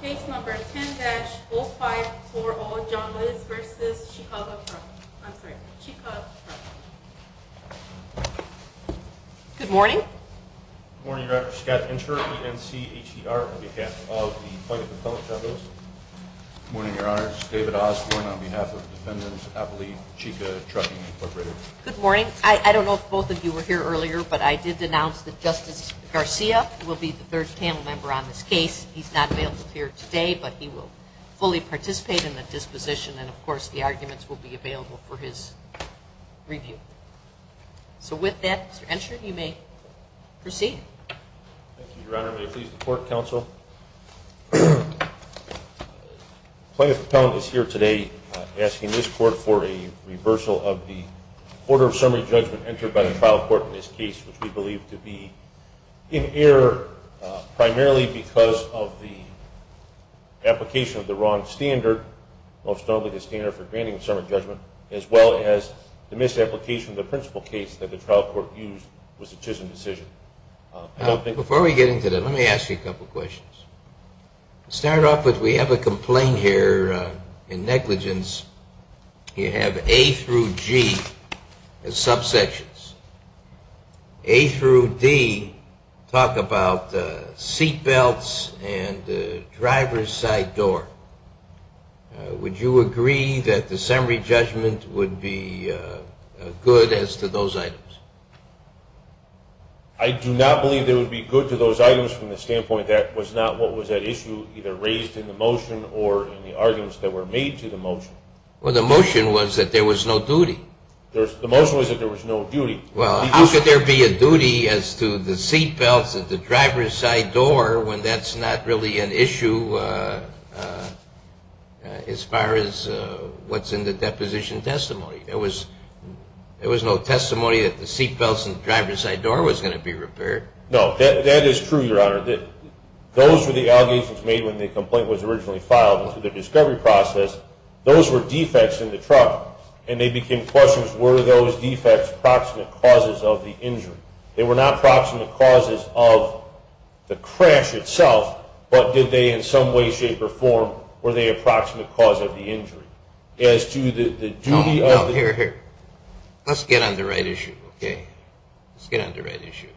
Case number 10-0540, John Liz v. CHICA Trucking. Good morning. Good morning, Your Honor. Scott Incher, ENCHR, on behalf of the Department of Public Trafficking. Good morning, Your Honor. This is David Osborne on behalf of Defendants Appley, CHICA Trucking, Inc. Good morning. I don't know if both of you were here earlier, but I did announce that Justice Garcia will be the third panel member on this case. He's not available here today, but he will fully participate in the disposition and, of course, the arguments will be available for his review. So with that, Mr. Incher, you may proceed. Thank you, Your Honor. May I please report, counsel? Plaintiff appellant is here today asking this court for a reversal of the order of summary judgment entered by the trial court in this case, which we believe to be in error primarily because of the application of the wrong standard, most notably the standard for granting summary judgment, as well as the misapplication of the principal case that the trial court used was a chiseled decision. Before we get into that, let me ask you a couple questions. To start off with, we have a complaint here in negligence. You have A through G as subsections. A through D talk about seat belts and driver's side door. Would you agree that the summary judgment would be good as to those items? I do not believe it would be good to those items from the standpoint that was not what was at issue, either raised in the motion or in the arguments that were made to the motion. Well, the motion was that there was no duty. The motion was that there was no duty. Well, how could there be a duty as to the seat belts and the driver's side door when that's not really an issue as far as what's in the deposition testimony? There was no testimony that the seat belts and the driver's side door was going to be repaired. No, that is true, Your Honor. Those were the allegations made when the complaint was originally filed and through the discovery process. Those were defects in the truck, and they became questions, were those defects approximate causes of the injury? They were not approximate causes of the crash itself, but did they in some way, shape, or form, were they approximate cause of the injury? No, no, here, here. Let's get on the right issue, okay? Let's get on the right issue here.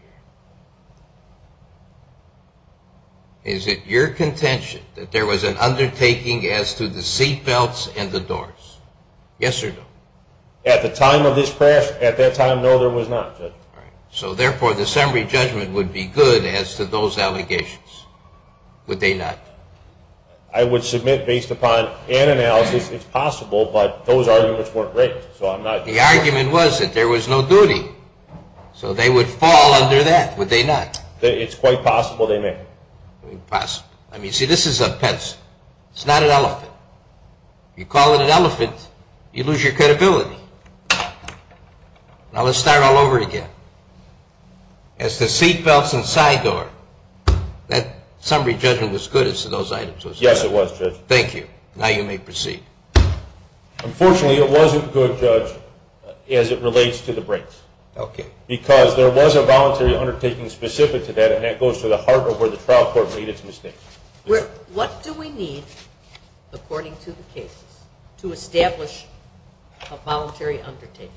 Is it your contention that there was an undertaking as to the seat belts and the doors? Yes or no? At the time of this crash, at that time, no, there was not, Judge. All right. So, therefore, the summary judgment would be good as to those allegations. Would they not? I would submit, based upon an analysis, it's possible, but those arguments weren't written, so I'm not sure. The argument was that there was no duty, so they would fall under that, would they not? It's quite possible they may. Possible. I mean, see, this is a pencil. It's not an elephant. You call it an elephant, you lose your credibility. Now, let's start all over again. As to seat belts and side door, that summary judgment was good as to those items. Yes, it was, Judge. Thank you. Now you may proceed. Unfortunately, it wasn't good, Judge, as it relates to the brakes. Okay. Because there was a voluntary undertaking specific to that, and that goes to the heart of where the trial court made its mistake. What do we need, according to the cases, to establish a voluntary undertaking?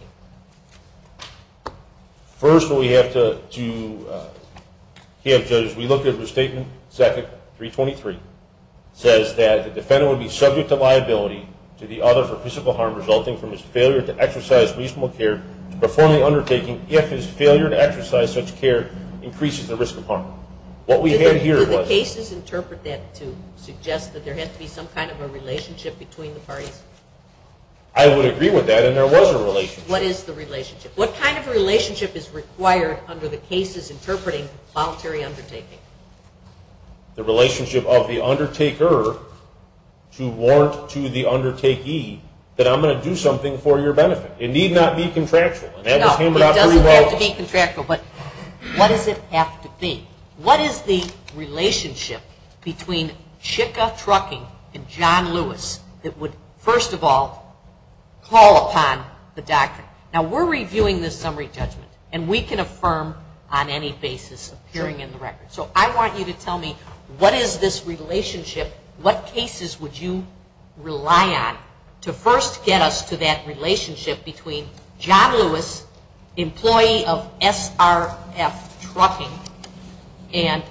First, we have to have, Judge, we look at the statement, second, 323, says that the defendant would be subject to liability to the other for physical harm resulting from his failure to exercise reasonable care to perform the undertaking if his failure to exercise such care increases the risk of harm. What we had here was… Do the cases interpret that to suggest that there has to be some kind of a relationship between the parties? I would agree with that, and there was a relationship. What is the relationship? What kind of relationship is required under the cases interpreting voluntary undertaking? The relationship of the undertaker to warrant to the undertakee that I'm going to do something for your benefit. It need not be contractual. No, it doesn't have to be contractual, but what does it have to be? What is the relationship between Chicka Trucking and John Lewis that would, first of all, call upon the doctor? Now, we're reviewing this summary judgment, and we can affirm on any basis appearing in the record. So I want you to tell me what is this relationship, what cases would you rely on to first get us to that relationship between John Lewis, employee of SRF Trucking, and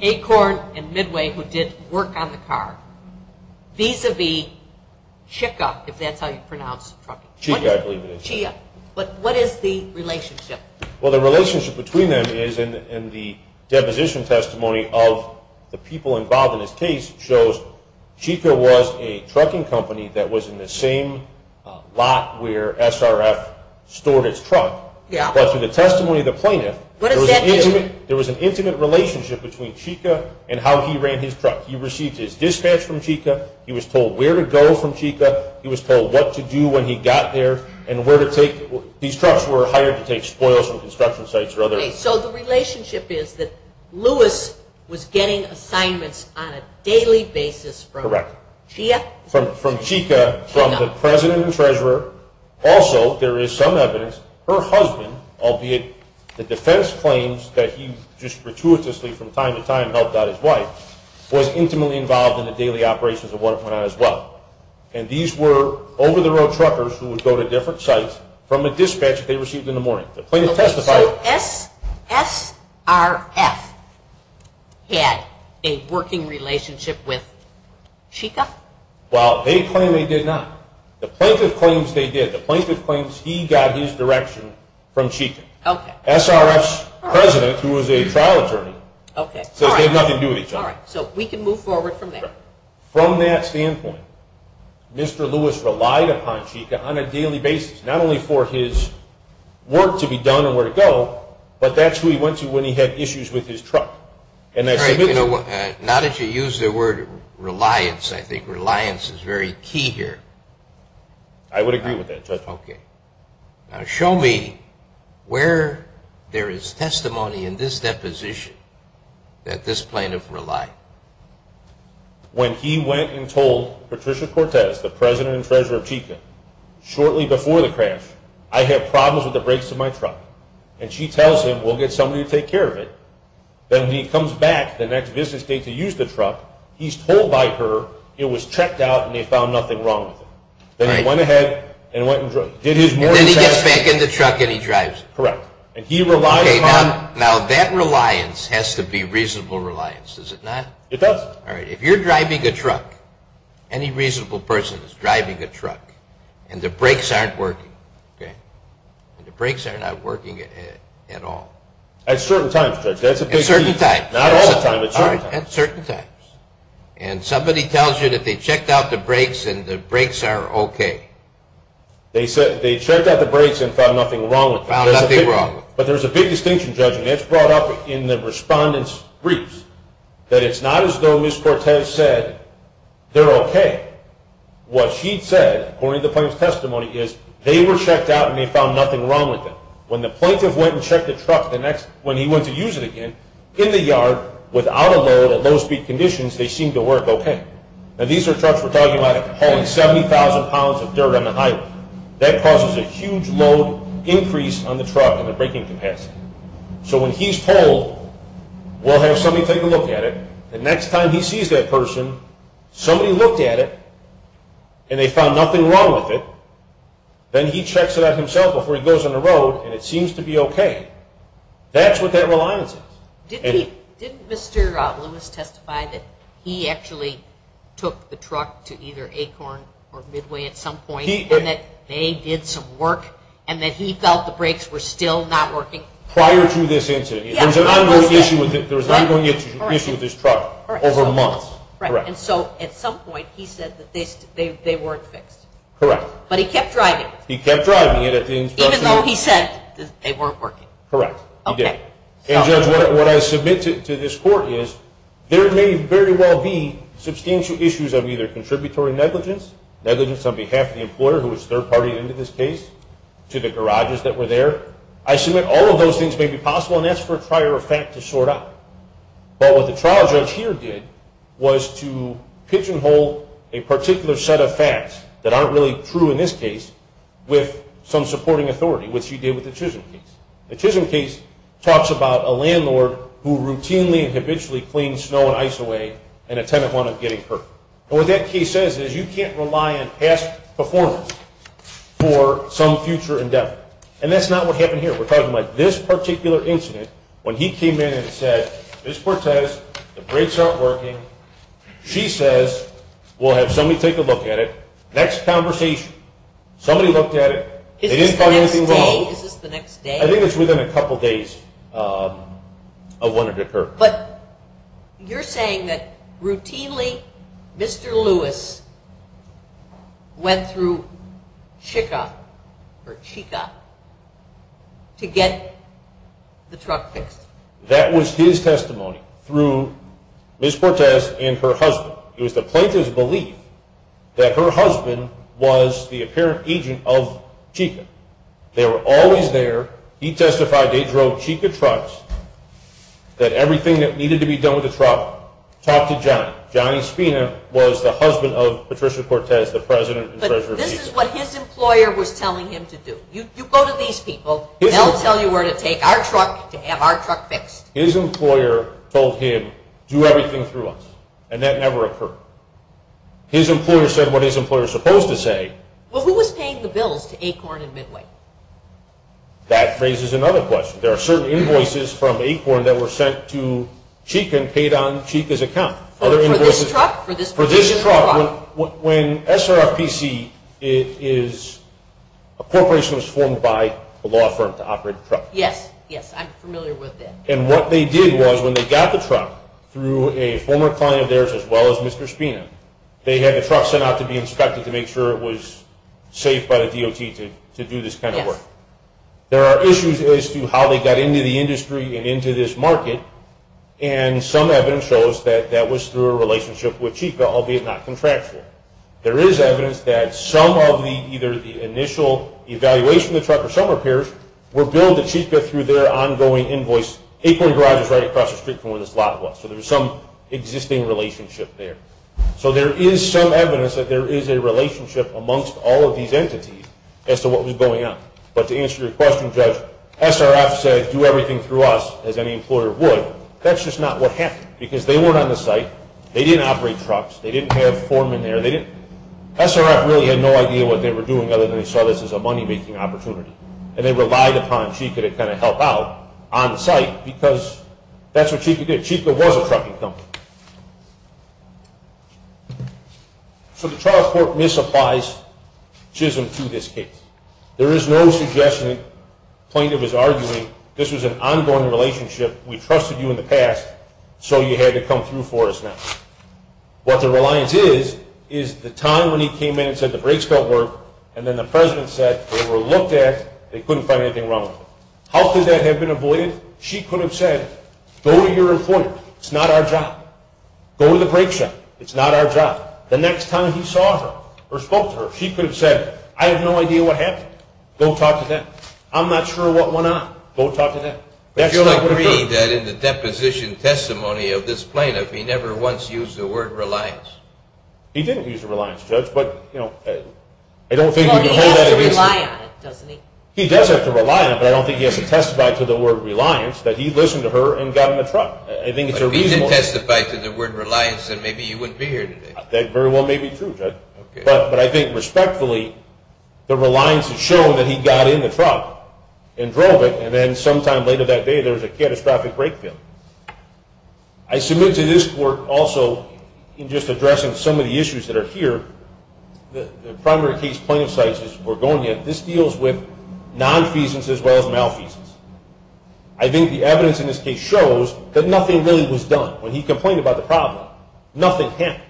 Acorn and Midway, who did work on the car, vis-a-vis Chicka, if that's how you pronounce trucking. Chicka, I believe it is. Chicka. But what is the relationship? Well, the relationship between them is in the deposition testimony of the people involved in this case shows Chicka was a trucking company that was in the same lot where SRF stored its truck. But through the testimony of the plaintiff, there was an intimate relationship between Chicka and how he ran his truck. He received his dispatch from Chicka. He was told where to go from Chicka. He was told what to do when he got there and where to take. These trucks were hired to take spoils from construction sites or other. Okay, so the relationship is that Lewis was getting assignments on a daily basis from Chicka. From Chicka, from the president and treasurer. Also, there is some evidence her husband, albeit the defense claims that he just gratuitously from time to time helped out his wife, was intimately involved in the daily operations of what went on as well. And these were over-the-road truckers who would go to different sites from a dispatch they received in the morning. Okay, so SRF had a working relationship with Chicka? Well, they claim they did not. The plaintiff claims they did. The plaintiff claims he got his direction from Chicka. SRF's president, who was a trial attorney, says they had nothing to do with each other. All right, so we can move forward from there. From that standpoint, Mr. Lewis relied upon Chicka on a daily basis, not only for his work to be done and where to go, but that's who he went to when he had issues with his truck. Now that you use the word reliance, I think reliance is very key here. I would agree with that, Judge. Okay. Now show me where there is testimony in this deposition that this plaintiff relied. When he went and told Patricia Cortez, the president and treasurer of Chicka, shortly before the crash, I have problems with the brakes of my truck. And she tells him we'll get somebody to take care of it. Then he comes back the next business day to use the truck. He's told by her it was checked out and they found nothing wrong with it. Then he went ahead and went and drove. Then he gets back in the truck and he drives it. Correct. Okay, now that reliance has to be reasonable reliance, does it not? It does. All right, if you're driving a truck, any reasonable person is driving a truck, and the brakes aren't working, okay, and the brakes are not working at all. At certain times, Judge, that's a big key. At certain times. Not all the time, but certain times. All right, at certain times. And somebody tells you that they checked out the brakes and the brakes are okay. They checked out the brakes and found nothing wrong with them. But there's a big distinction, Judge, and it's brought up in the respondent's briefs that it's not as though Ms. Cortez said they're okay. What she said, according to the plaintiff's testimony, is they were checked out and they found nothing wrong with them. When the plaintiff went and checked the truck when he went to use it again, in the yard, without a load, at low-speed conditions, they seemed to work okay. Now, these are trucks we're talking about hauling 70,000 pounds of dirt on the highway. That causes a huge load increase on the truck and the braking capacity. So when he's told, we'll have somebody take a look at it, the next time he sees that person, somebody looked at it and they found nothing wrong with it, then he checks it out himself before he goes on the road and it seems to be okay. That's what that reliance is. Didn't Mr. Lewis testify that he actually took the truck to either Acorn or Midway at some point? And that they did some work and that he felt the brakes were still not working? Prior to this incident. There was an ongoing issue with this truck over months. Correct. And so at some point he said that they weren't fixed? Correct. But he kept driving it? He kept driving it. Even though he said they weren't working? Correct. Okay. And Judge, what I submit to this Court is there may very well be substantial issues of either contributory negligence, negligence on behalf of the employer who was third-party into this case, to the garages that were there. I submit all of those things may be possible and that's for a trial or fact to sort out. But what the trial judge here did was to pigeonhole a particular set of facts that aren't really true in this case with some supporting authority, which he did with the Chisholm case. The Chisholm case talks about a landlord who routinely and habitually cleans snow and ice away in an attempt on getting hurt. And what that case says is you can't rely on past performance for some future endeavor. And that's not what happened here. We're talking about this particular incident when he came in and said, Ms. Portez, the brakes aren't working. She says we'll have somebody take a look at it. Next conversation. Somebody looked at it. They didn't find anything wrong. Is this the next day? I think it's within a couple days of when it occurred. But you're saying that routinely Mr. Lewis went through Chika to get the truck fixed. That was his testimony through Ms. Portez and her husband. It was the plaintiff's belief that her husband was the apparent agent of Chika. They were always there. He testified that he drove Chika trucks, that everything that needed to be done with the truck talked to Johnny. Johnny Spina was the husband of Patricia Portez, the president and treasurer of Chika. But this is what his employer was telling him to do. You go to these people. They'll tell you where to take our truck to have our truck fixed. His employer told him, do everything through us. And that never occurred. His employer said what his employer was supposed to say. Who was paying the bills to Acorn and Midway? That raises another question. There are certain invoices from Acorn that were sent to Chika and paid on Chika's account. For this truck? For this truck. When SRPC is a corporation that was formed by a law firm to operate a truck. Yes, yes. I'm familiar with that. And what they did was when they got the truck through a former client of theirs as well as Mr. Spina, they had the truck sent out to be inspected to make sure it was safe by the DOT to do this kind of work. Yes. There are issues as to how they got into the industry and into this market. And some evidence shows that that was through a relationship with Chika, albeit not contractual. There is evidence that some of either the initial evaluation of the truck or some repairs were billed to Chika through their ongoing invoice. Acorn Garage is right across the street from where this lot was. So there's some existing relationship there. So there is some evidence that there is a relationship amongst all of these entities as to what was going on. But to answer your question, Judge, SRF said do everything through us as any employer would. That's just not what happened because they weren't on the site. They didn't operate trucks. They didn't have foremen there. SRF really had no idea what they were doing other than they saw this as a money-making opportunity. And they relied upon Chika to kind of help out on site because that's what Chika did. Chika was a trucking company. So the trial court misapplies Chisholm to this case. There is no suggestion, plaintiff is arguing this was an ongoing relationship. We trusted you in the past, so you had to come through for us now. What the reliance is is the time when he came in and said the brakes don't work and then the president said they were looked at, they couldn't find anything wrong with them. How could that have been avoided? She could have said go to your employer. It's not our job. Go to the brake shop. It's not our job. The next time he saw her or spoke to her, she could have said I have no idea what happened. Go talk to them. I'm not sure what went on. Go talk to them. But you'll agree that in the deposition testimony of this plaintiff, he never once used the word reliance. He didn't use the word reliance, Judge, but, you know, I don't think you can hold that against him. Well, he has to rely on it, doesn't he? He does have to rely on it, but I don't think he has to testify to the word reliance that he listened to her and got in the truck. I think it's a reasonable. But if he didn't testify to the word reliance, then maybe you wouldn't be here today. That very well may be true, Judge. But I think respectfully the reliance has shown that he got in the truck and drove it, and then sometime later that day there was a catastrophic brake failure. I submit to this court also in just addressing some of the issues that are here, the primary case plaintiff cites is Borgonia. This deals with nonfeasance as well as malfeasance. I think the evidence in this case shows that nothing really was done. When he complained about the problem, nothing happened.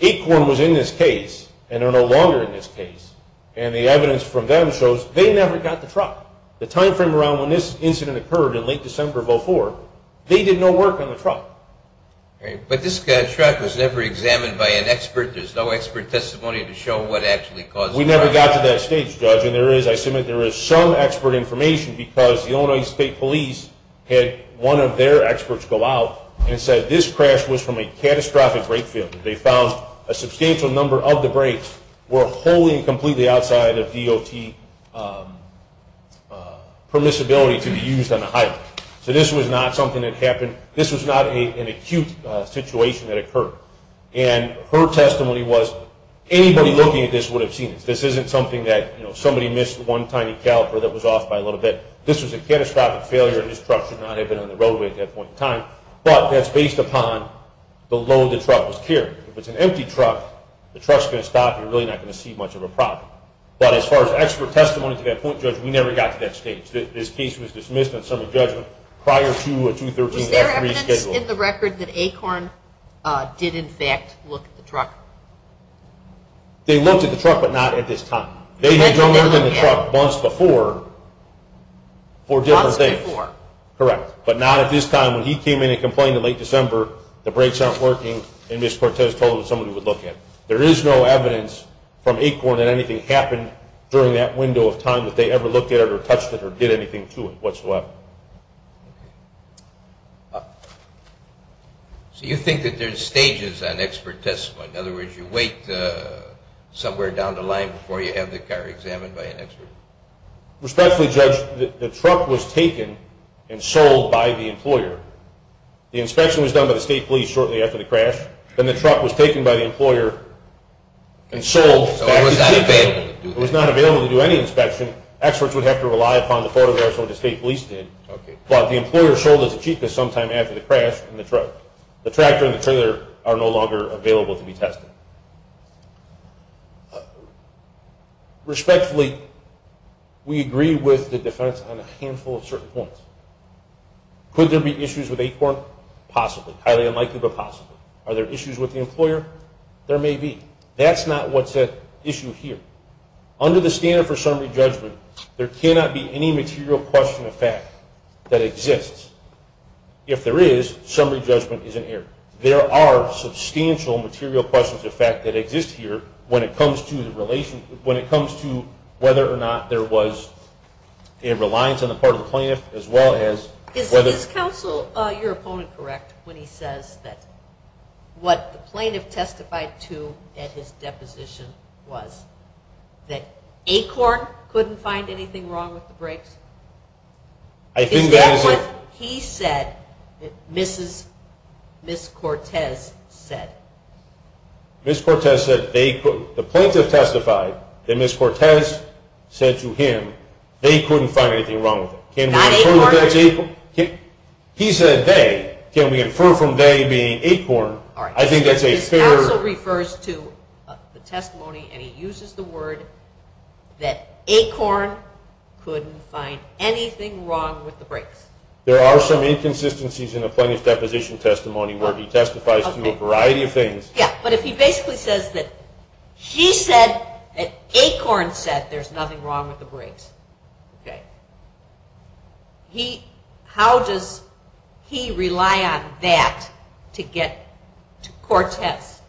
Acorn was in this case and are no longer in this case, and the evidence from them shows they never got the truck. The time frame around when this incident occurred in late December of 2004, they did no work on the truck. But this truck was never examined by an expert. There's no expert testimony to show what actually caused the crash. We never got to that stage, Judge. I submit there is some expert information because the Illinois State Police had one of their experts go out and said this crash was from a catastrophic brake failure. They found a substantial number of the brakes were wholly and completely outside of DOT permissibility to be used on the highway. So this was not something that happened. This was not an acute situation that occurred. And her testimony was anybody looking at this would have seen this. This isn't something that, you know, somebody missed one tiny caliper that was off by a little bit. This was a catastrophic failure, and this truck should not have been on the roadway at that point in time. But that's based upon the load the truck was carrying. If it's an empty truck, the truck's going to stop, and you're really not going to see much of a problem. But as far as expert testimony to that point, Judge, we never got to that stage. This case was dismissed on summary judgment prior to a 2-13 F3 schedule. Was there evidence in the record that Acorn did, in fact, look at the truck? They looked at the truck, but not at this time. They may have looked at the truck once before for different things. Once before. Correct, but not at this time. When he came in and complained in late December, the brakes aren't working, and Ms. Cortez told them somebody would look at it. There is no evidence from Acorn that anything happened during that window of time that they ever looked at it or touched it or did anything to it whatsoever. So you think that there's stages on expert testimony? In other words, you wait somewhere down the line before you have the car examined by an expert? Respectfully, Judge, the truck was taken and sold by the employer. The inspection was done by the state police shortly after the crash. Then the truck was taken by the employer and sold. So it was not available to do that. It was not available to do any inspection. Experts would have to rely upon the photographs that the state police did. But the employer sold it to Chica sometime after the crash in the truck. The tractor and the trailer are no longer available to be tested. Respectfully, we agree with the defense on a handful of certain points. Could there be issues with Acorn? Possibly. Highly unlikely, but possibly. Are there issues with the employer? There may be. That's not what's at issue here. Under the standard for summary judgment, there cannot be any material question of fact that exists. If there is, summary judgment is inerrant. There are substantial material questions of fact that exist here when it comes to whether or not there was a reliance on the part of the plaintiff as well as whether or not there was. One of the things that the plaintiff said at his deposition was that Acorn couldn't find anything wrong with the brakes. Is that what he said that Ms. Cortez said? Ms. Cortez said they couldn't. The plaintiff testified that Ms. Cortez said to him they couldn't find anything wrong with it. Not Acorn? He said they. Can we infer from they being Acorn? His counsel refers to the testimony and he uses the word that Acorn couldn't find anything wrong with the brakes. There are some inconsistencies in the plaintiff's deposition testimony where he testifies to a variety of things. But if he basically says that Acorn said there's nothing wrong with the brakes, how does he rely on that to get to Cortez?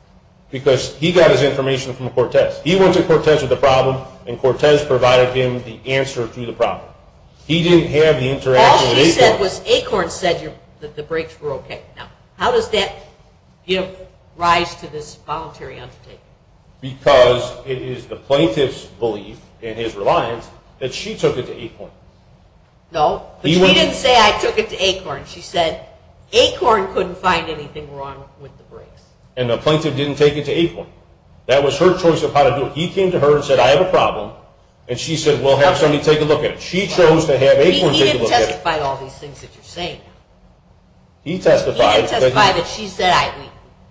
Because he got his information from Cortez. He went to Cortez with a problem and Cortez provided him the answer to the problem. He didn't have the interaction with Acorn. All she said was Acorn said the brakes were okay. How does that give rise to this voluntary undertaking? Because it is the plaintiff's belief in his reliance that she took it to Acorn. No, but she didn't say I took it to Acorn. She said Acorn couldn't find anything wrong with the brakes. And the plaintiff didn't take it to Acorn. That was her choice of how to do it. He came to her and said I have a problem and she said we'll have somebody take a look at it. She chose to have Acorn take a look at it. He didn't testify to all these things that you're saying. He testified. He didn't testify that she said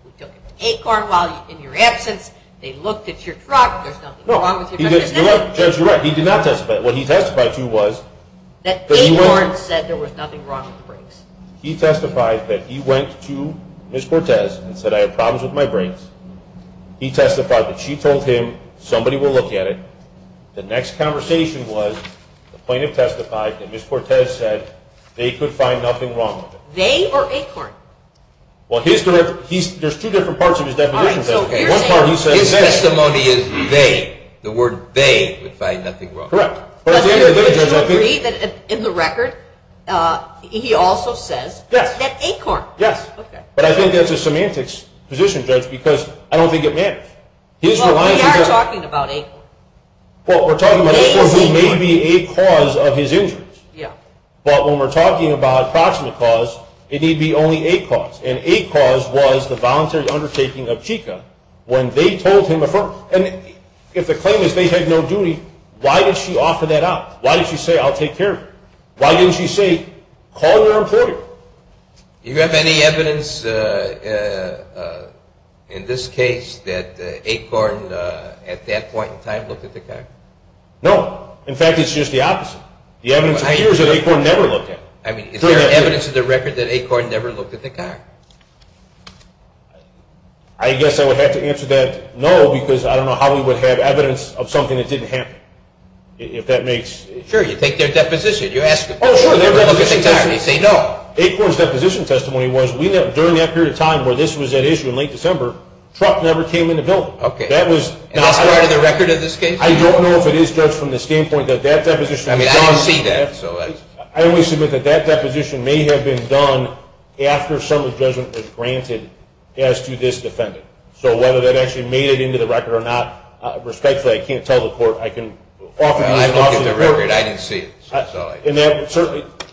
we took it to Acorn while in your absence. They looked at your truck. There's nothing wrong with your truck. Judge, you're right. He did not testify. What he testified to was. That Acorn said there was nothing wrong with the brakes. He testified that he went to Ms. Cortez and said I have problems with my brakes. He testified that she told him somebody will look at it. The next conversation was the plaintiff testified that Ms. Cortez said they could find nothing wrong with it. They or Acorn? Well, there's two different parts of his deposition. His testimony is they. The word they would find nothing wrong. Correct. In the record, he also says that Acorn. Yes. But I think that's a semantics position, Judge, because I don't think it matters. Well, we are talking about Acorn. Well, we're talking about Acorn who may be a cause of his injuries. Yeah. But when we're talking about a proximate cause, it need be only a cause. And a cause was the voluntary undertaking of Chica when they told him a firm. And if the claim is they had no duty, why did she offer that up? Why did she say I'll take care of you? Why didn't she say call your employer? You have any evidence in this case that Acorn at that point in time looked at the car? No. In fact, it's just the opposite. The evidence appears that Acorn never looked at it. I mean, is there evidence in the record that Acorn never looked at the car? I guess I would have to answer that no, because I don't know how we would have evidence of something that didn't happen. If that makes sense. Sure. You take their deposition. Oh, sure. Their deposition testimony? They say no. Acorn's deposition testimony was during that period of time where this was at issue in late December, truck never came in the building. Okay. That was not part of the record of this case? I don't know if it is, Judge, from the standpoint that that deposition was done. I mean, I don't see that. I only submit that that deposition may have been done after some of the judgment was granted as to this defendant. So whether that actually made it into the record or not, respectfully, I can't tell the Court. I looked at the record. I didn't see it. And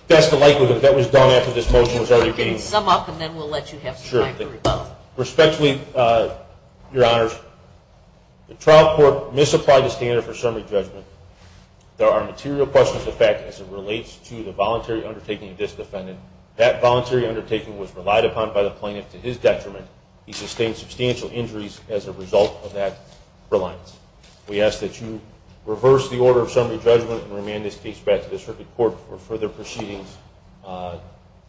that's the likelihood that that was done after this motion was already being... You can sum up and then we'll let you have time to rebut. Sure. Respectfully, Your Honors, the trial court misapplied the standard for summary judgment. There are material questions of fact as it relates to the voluntary undertaking of this defendant. That voluntary undertaking was relied upon by the plaintiff to his detriment. He sustained substantial injuries as a result of that reliance. We ask that you reverse the order of summary judgment and remand this case back to the circuit court for further proceedings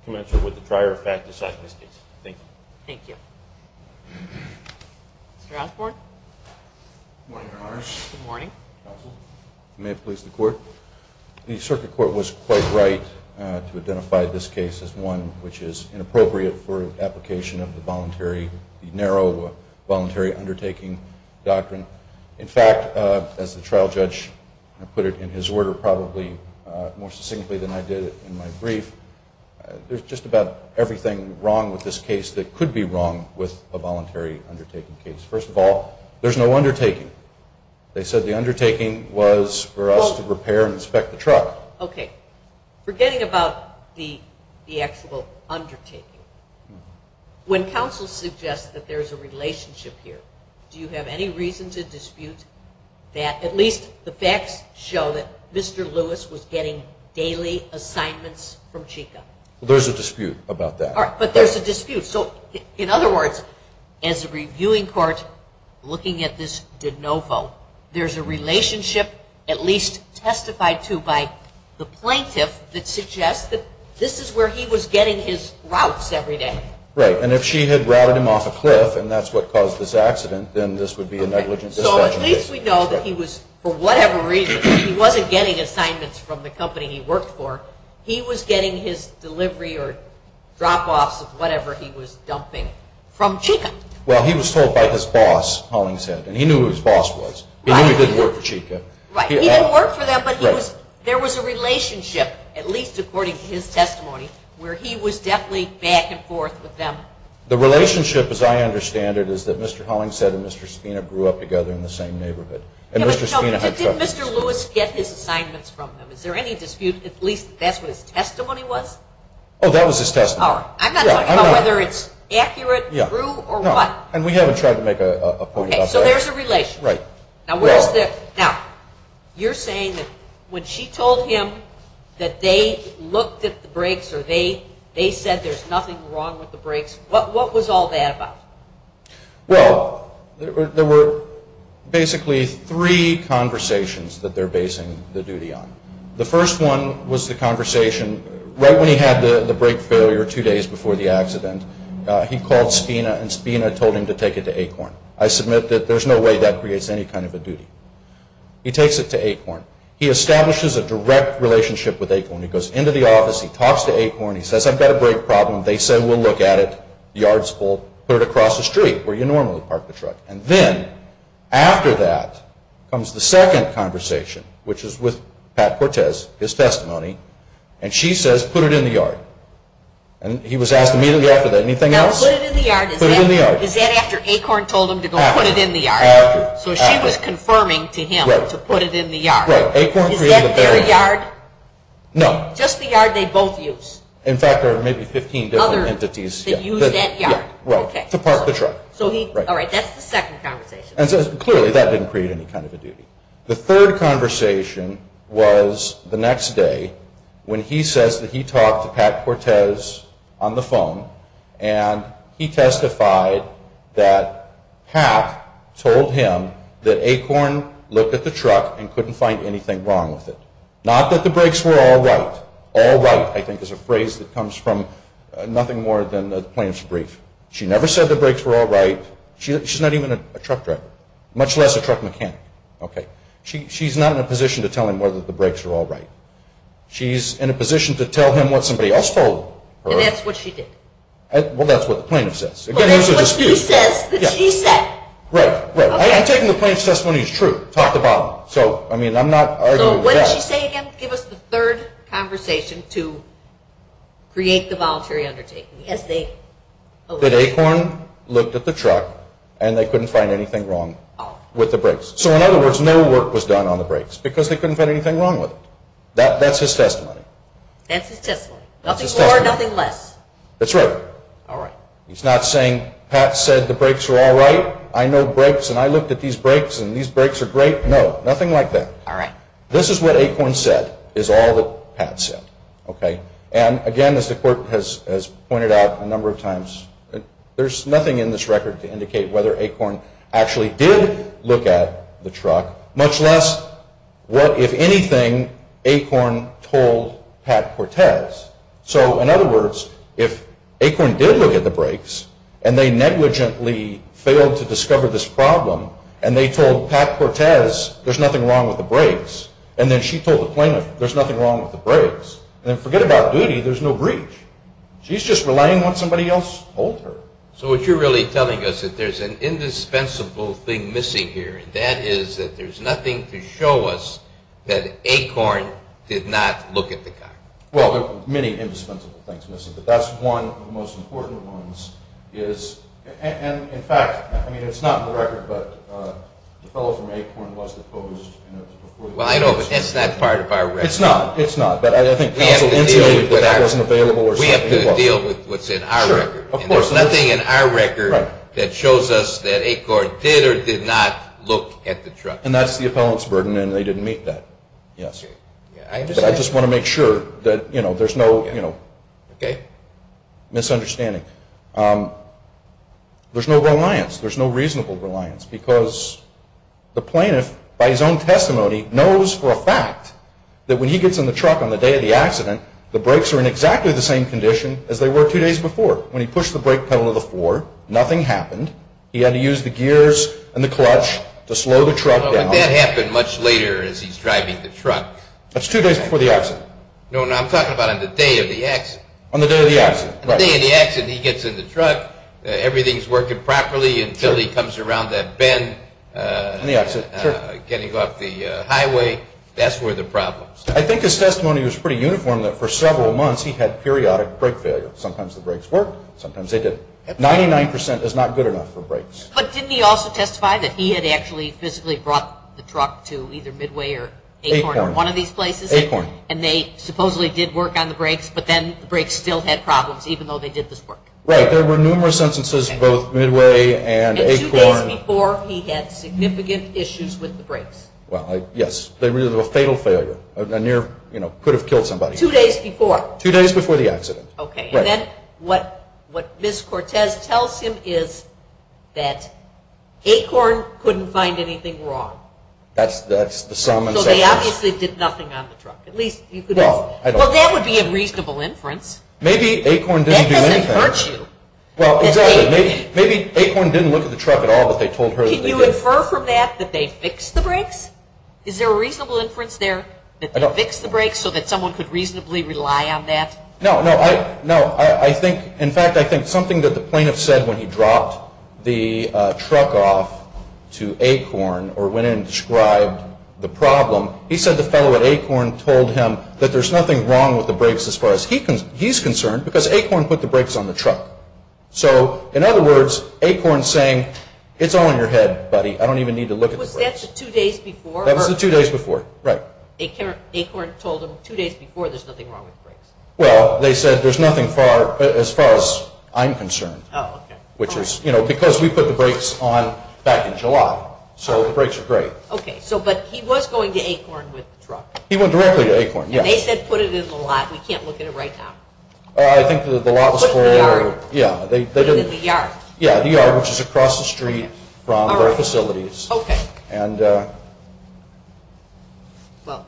commensurate with the prior fact beside this case. Thank you. Thank you. Mr. Osborne. Good morning, Your Honors. Good morning. Counsel, may it please the Court. The circuit court was quite right to identify this case as one which is inappropriate for application of the voluntary, the narrow voluntary undertaking doctrine. In fact, as the trial judge put it in his order probably more succinctly than I did in my brief, there's just about everything wrong with this case that could be wrong with a voluntary undertaking case. First of all, there's no undertaking. They said the undertaking was for us to repair and inspect the truck. So, okay, forgetting about the actual undertaking, when counsel suggests that there's a relationship here, do you have any reason to dispute that at least the facts show that Mr. Lewis was getting daily assignments from Chica? There's a dispute about that. But there's a dispute. So, in other words, as a reviewing court looking at this de novo, there's a relationship at least testified to by the plaintiff that suggests that this is where he was getting his routes every day. Right. And if she had routed him off a cliff and that's what caused this accident, then this would be a negligent dispute. So, at least we know that he was, for whatever reason, he wasn't getting assignments from the company he worked for. He was getting his delivery or drop-offs of whatever he was dumping from Chica. Well, he was told by his boss, Hollingshead, and he knew who his boss was. He knew he didn't work for Chica. Right. He didn't work for them, but there was a relationship, at least according to his testimony, where he was definitely back and forth with them. The relationship, as I understand it, is that Mr. Hollingshead and Mr. Spina grew up together in the same neighborhood. Did Mr. Lewis get his assignments from them? Is there any dispute at least that that's what his testimony was? Oh, that was his testimony. All right. I'm not talking about whether it's accurate, true, or what. And we haven't tried to make a point of that. Okay, so there's a relation. Right. Now, you're saying that when she told him that they looked at the brakes or they said there's nothing wrong with the brakes, what was all that about? Well, there were basically three conversations that they're basing the duty on. The first one was the conversation right when he had the brake failure two days before the accident. He called Spina, and Spina told him to take it to Acorn. I submit that there's no way that creates any kind of a duty. He takes it to Acorn. He establishes a direct relationship with Acorn. He goes into the office. He talks to Acorn. He says, I've got a brake problem. They say we'll look at it. The yard's full. Put it across the street where you normally park the truck. And then after that comes the second conversation, which is with Pat Cortez, his testimony. And she says, put it in the yard. And he was asked immediately after that, anything else? Now, put it in the yard. Put it in the yard. Is that after Acorn told him to go put it in the yard? After. So she was confirming to him to put it in the yard. Right. Acorn created a barrier. Is that their yard? No. Just the yard they both use? In fact, there are maybe 15 different entities. Others that use that yard. Right. To park the truck. All right. That's the second conversation. Clearly, that didn't create any kind of a duty. The third conversation was the next day when he says that he talked to Pat Cortez on the phone. And he testified that Pat told him that Acorn looked at the truck and couldn't find anything wrong with it. Not that the brakes were all right. All right, I think, is a phrase that comes from nothing more than the plaintiff's brief. She never said the brakes were all right. She's not even a truck driver, much less a truck mechanic. Okay. She's not in a position to tell him whether the brakes were all right. She's in a position to tell him what somebody else told her. And that's what she did. Well, that's what the plaintiff says. But that's what he says that she said. Right, right. I'm taking the plaintiff's testimony as true. Talked about it. So, I mean, I'm not arguing with that. So what did she say again? Can you give us the third conversation to create the voluntary undertaking? That Acorn looked at the truck and they couldn't find anything wrong with the brakes. So, in other words, no work was done on the brakes because they couldn't find anything wrong with it. That's his testimony. That's his testimony. Nothing more, nothing less. That's right. All right. He's not saying Pat said the brakes were all right. I know brakes and I looked at these brakes and these brakes are great. No, nothing like that. All right. This is what Acorn said is all that Pat said. Okay. And, again, as the court has pointed out a number of times, there's nothing in this record to indicate whether Acorn actually did look at the truck, much less what, if anything, Acorn told Pat Cortez. So, in other words, if Acorn did look at the brakes and they negligently failed to discover this problem and they told Pat Cortez there's nothing wrong with the brakes and then she told the plaintiff there's nothing wrong with the brakes, then forget about duty, there's no breach. She's just relying on what somebody else told her. So what you're really telling us is that there's an indispensable thing missing here, and that is that there's nothing to show us that Acorn did not look at the car. Well, there are many indispensable things missing, but that's one of the most important ones. And, in fact, it's not in the record, but the fellow from Acorn was deposed. Well, I know, but that's not part of our record. It's not. But I think counsel intimated that that wasn't available. We have to deal with what's in our record. Sure. There's nothing in our record that shows us that Acorn did or did not look at the truck. And that's the appellant's burden, and they didn't meet that. Yes. But I just want to make sure that there's no misunderstanding. There's no reliance. There's no reasonable reliance because the plaintiff, by his own testimony, knows for a fact that when he gets in the truck on the day of the accident, the brakes are in exactly the same condition as they were two days before. When he pushed the brake pedal to the floor, nothing happened. He had to use the gears and the clutch to slow the truck down. But that happened much later as he's driving the truck. That's two days before the accident. No, I'm talking about on the day of the accident. On the day of the accident, right. On the day of the accident, he gets in the truck. Everything's working properly until he comes around that bend. On the exit. Getting off the highway. That's where the problem is. I think his testimony was pretty uniform that for several months he had periodic brake failure. Sometimes the brakes worked. Sometimes they didn't. 99% is not good enough for brakes. But didn't he also testify that he had actually physically brought the truck to either Midway or Acorn or one of these places? Acorn. And they supposedly did work on the brakes, but then the brakes still had problems even though they did this work. Right. There were numerous instances of both Midway and Acorn. And two days before, he had significant issues with the brakes. Well, yes. They were a fatal failure. A near, you know, could have killed somebody. Two days before. Two days before the accident. Okay. And then what Ms. Cortez tells him is that Acorn couldn't find anything wrong. That's the sum and sections. So they obviously did nothing on the truck. Well, that would be a reasonable inference. Maybe Acorn didn't do anything. That doesn't hurt you. Well, exactly. Maybe Acorn didn't look at the truck at all, but they told her that they did. Can you infer from that that they fixed the brakes? Is there a reasonable inference there that they fixed the brakes so that someone could reasonably rely on that? No, no. I think, in fact, I think something that the plaintiff said when he dropped the truck off to Acorn or went in and described the problem, he said the fellow at Acorn told him that there's nothing wrong with the brakes as far as he's concerned because Acorn put the brakes on the truck. So, in other words, Acorn's saying, it's all in your head, buddy. I don't even need to look at the brakes. Was that the two days before? That was the two days before. Right. Acorn told him two days before there's nothing wrong with the brakes. Well, they said there's nothing as far as I'm concerned, which is, you know, because we put the brakes on back in July. So the brakes are great. Okay. So, but he was going to Acorn with the truck. He went directly to Acorn, yes. And they said put it in the lot. We can't look at it right now. I think the lot was for... Put it in the yard. Yeah, they didn't... Put it in the yard. Yeah, the yard, which is across the street from their facilities. Okay. And... Well,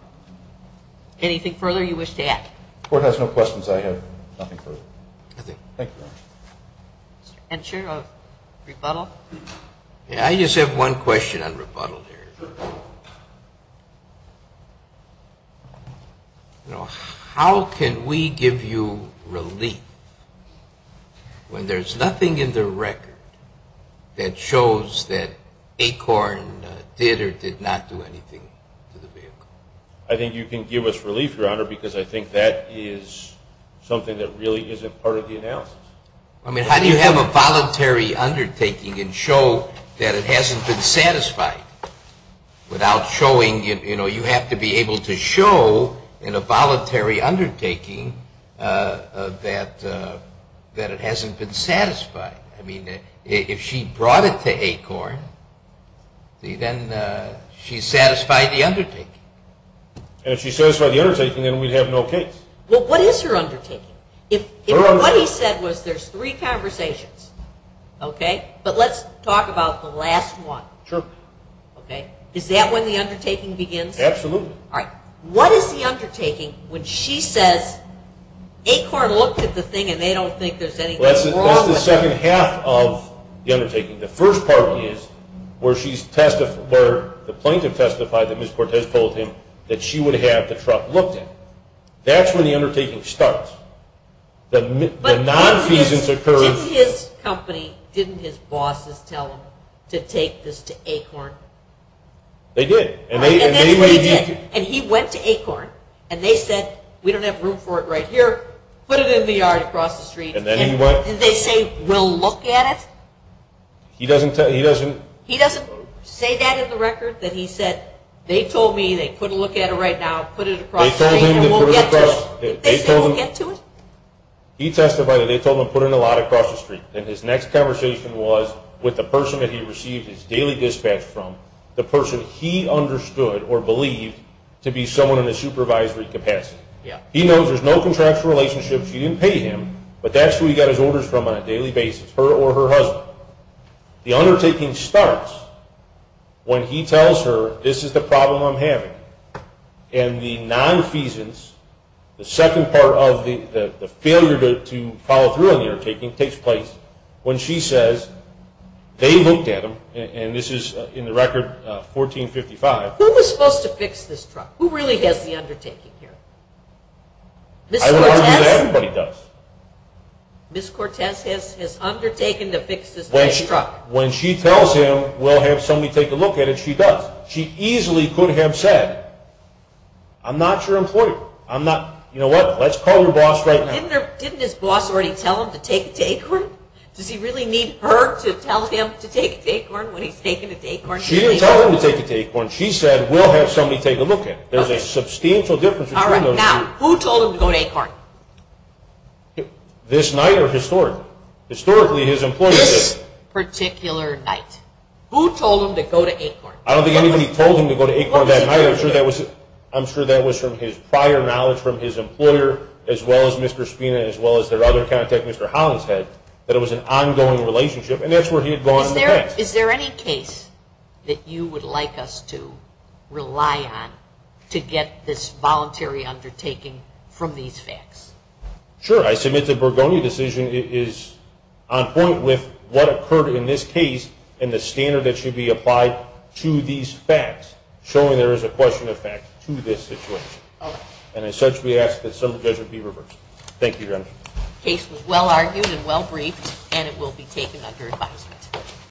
anything further you wish to add? The Court has no questions. I have nothing further. Nothing. Thank you, Your Honor. And, Sheriff, a rebuttal? Yeah, I just have one question on rebuttal here. You know, how can we give you relief when there's nothing in the record that shows that Acorn did or did not do anything to the vehicle? I think you can give us relief, Your Honor, because I think that is something that really isn't part of the analysis. I mean, how do you have a voluntary undertaking and show that it hasn't been satisfied without showing... You know, you have to be able to show in a voluntary undertaking that it hasn't been satisfied. I mean, if she brought it to Acorn, then she satisfied the undertaking. And if she satisfied the undertaking, then we'd have no case. Well, what is her undertaking? What he said was there's three conversations, okay? But let's talk about the last one. Sure. Okay? Is that when the undertaking begins? Absolutely. All right. What is the undertaking when she says Acorn looked at the thing and they don't think there's anything wrong with it? That's the second half of the undertaking. The first part is where the plaintiff testified that Ms. Cortez told him that she would have the truck looked at. That's when the undertaking starts. The nonfeasance occurs... But didn't his company, didn't his bosses tell him to take this to Acorn? They did. And he went to Acorn, and they said, we don't have room for it right here, put it in the yard across the street... And then he what? And they say, we'll look at it. He doesn't say that in the record, that he said, they told me they couldn't look at it right now, put it across the street. They said we'll get to it? He testified that they told him to put in a lot across the street. And his next conversation was with the person that he received his daily dispatch from, the person he understood or believed to be someone in the supervisory capacity. He knows there's no contractual relationship, she didn't pay him, but that's who he got his orders from on a daily basis, her or her husband. The undertaking starts when he tells her, this is the problem I'm having. And the nonfeasance, the second part of the failure to follow through on the undertaking, takes place when she says, they looked at him, and this is in the record 1455... Who was supposed to fix this truck? Who really has the undertaking here? Ms. Cortez? I would argue that everybody does. Ms. Cortez has undertaken to fix this truck. When she tells him, we'll have somebody take a look at it, she does. She easily could have said, I'm not your employer. You know what, let's call your boss right now. Didn't his boss already tell him to take it to Acorn? Does he really need her to tell him to take it to Acorn when he's taking it to Acorn? She didn't tell him to take it to Acorn. She said, we'll have somebody take a look at it. There's a substantial difference between those two. Now, who told him to go to Acorn? This night or historically? Historically, his employer did. This particular night. Who told him to go to Acorn? I don't think anybody told him to go to Acorn that night. I'm sure that was from his prior knowledge from his employer, as well as Mr. Spina, as well as their other contact, Mr. Holland's head, that it was an ongoing relationship, and that's where he had gone in the past. Is there any case that you would like us to rely on to get this voluntary undertaking from these facts? Sure. I submit the Bergoni decision is on point with what occurred in this case and the standard that should be applied to these facts, showing there is a question of fact to this situation. Okay. And as such, we ask that some judgment be reversed. Thank you, Your Honor. The case was well argued and well briefed, and it will be taken under advisement.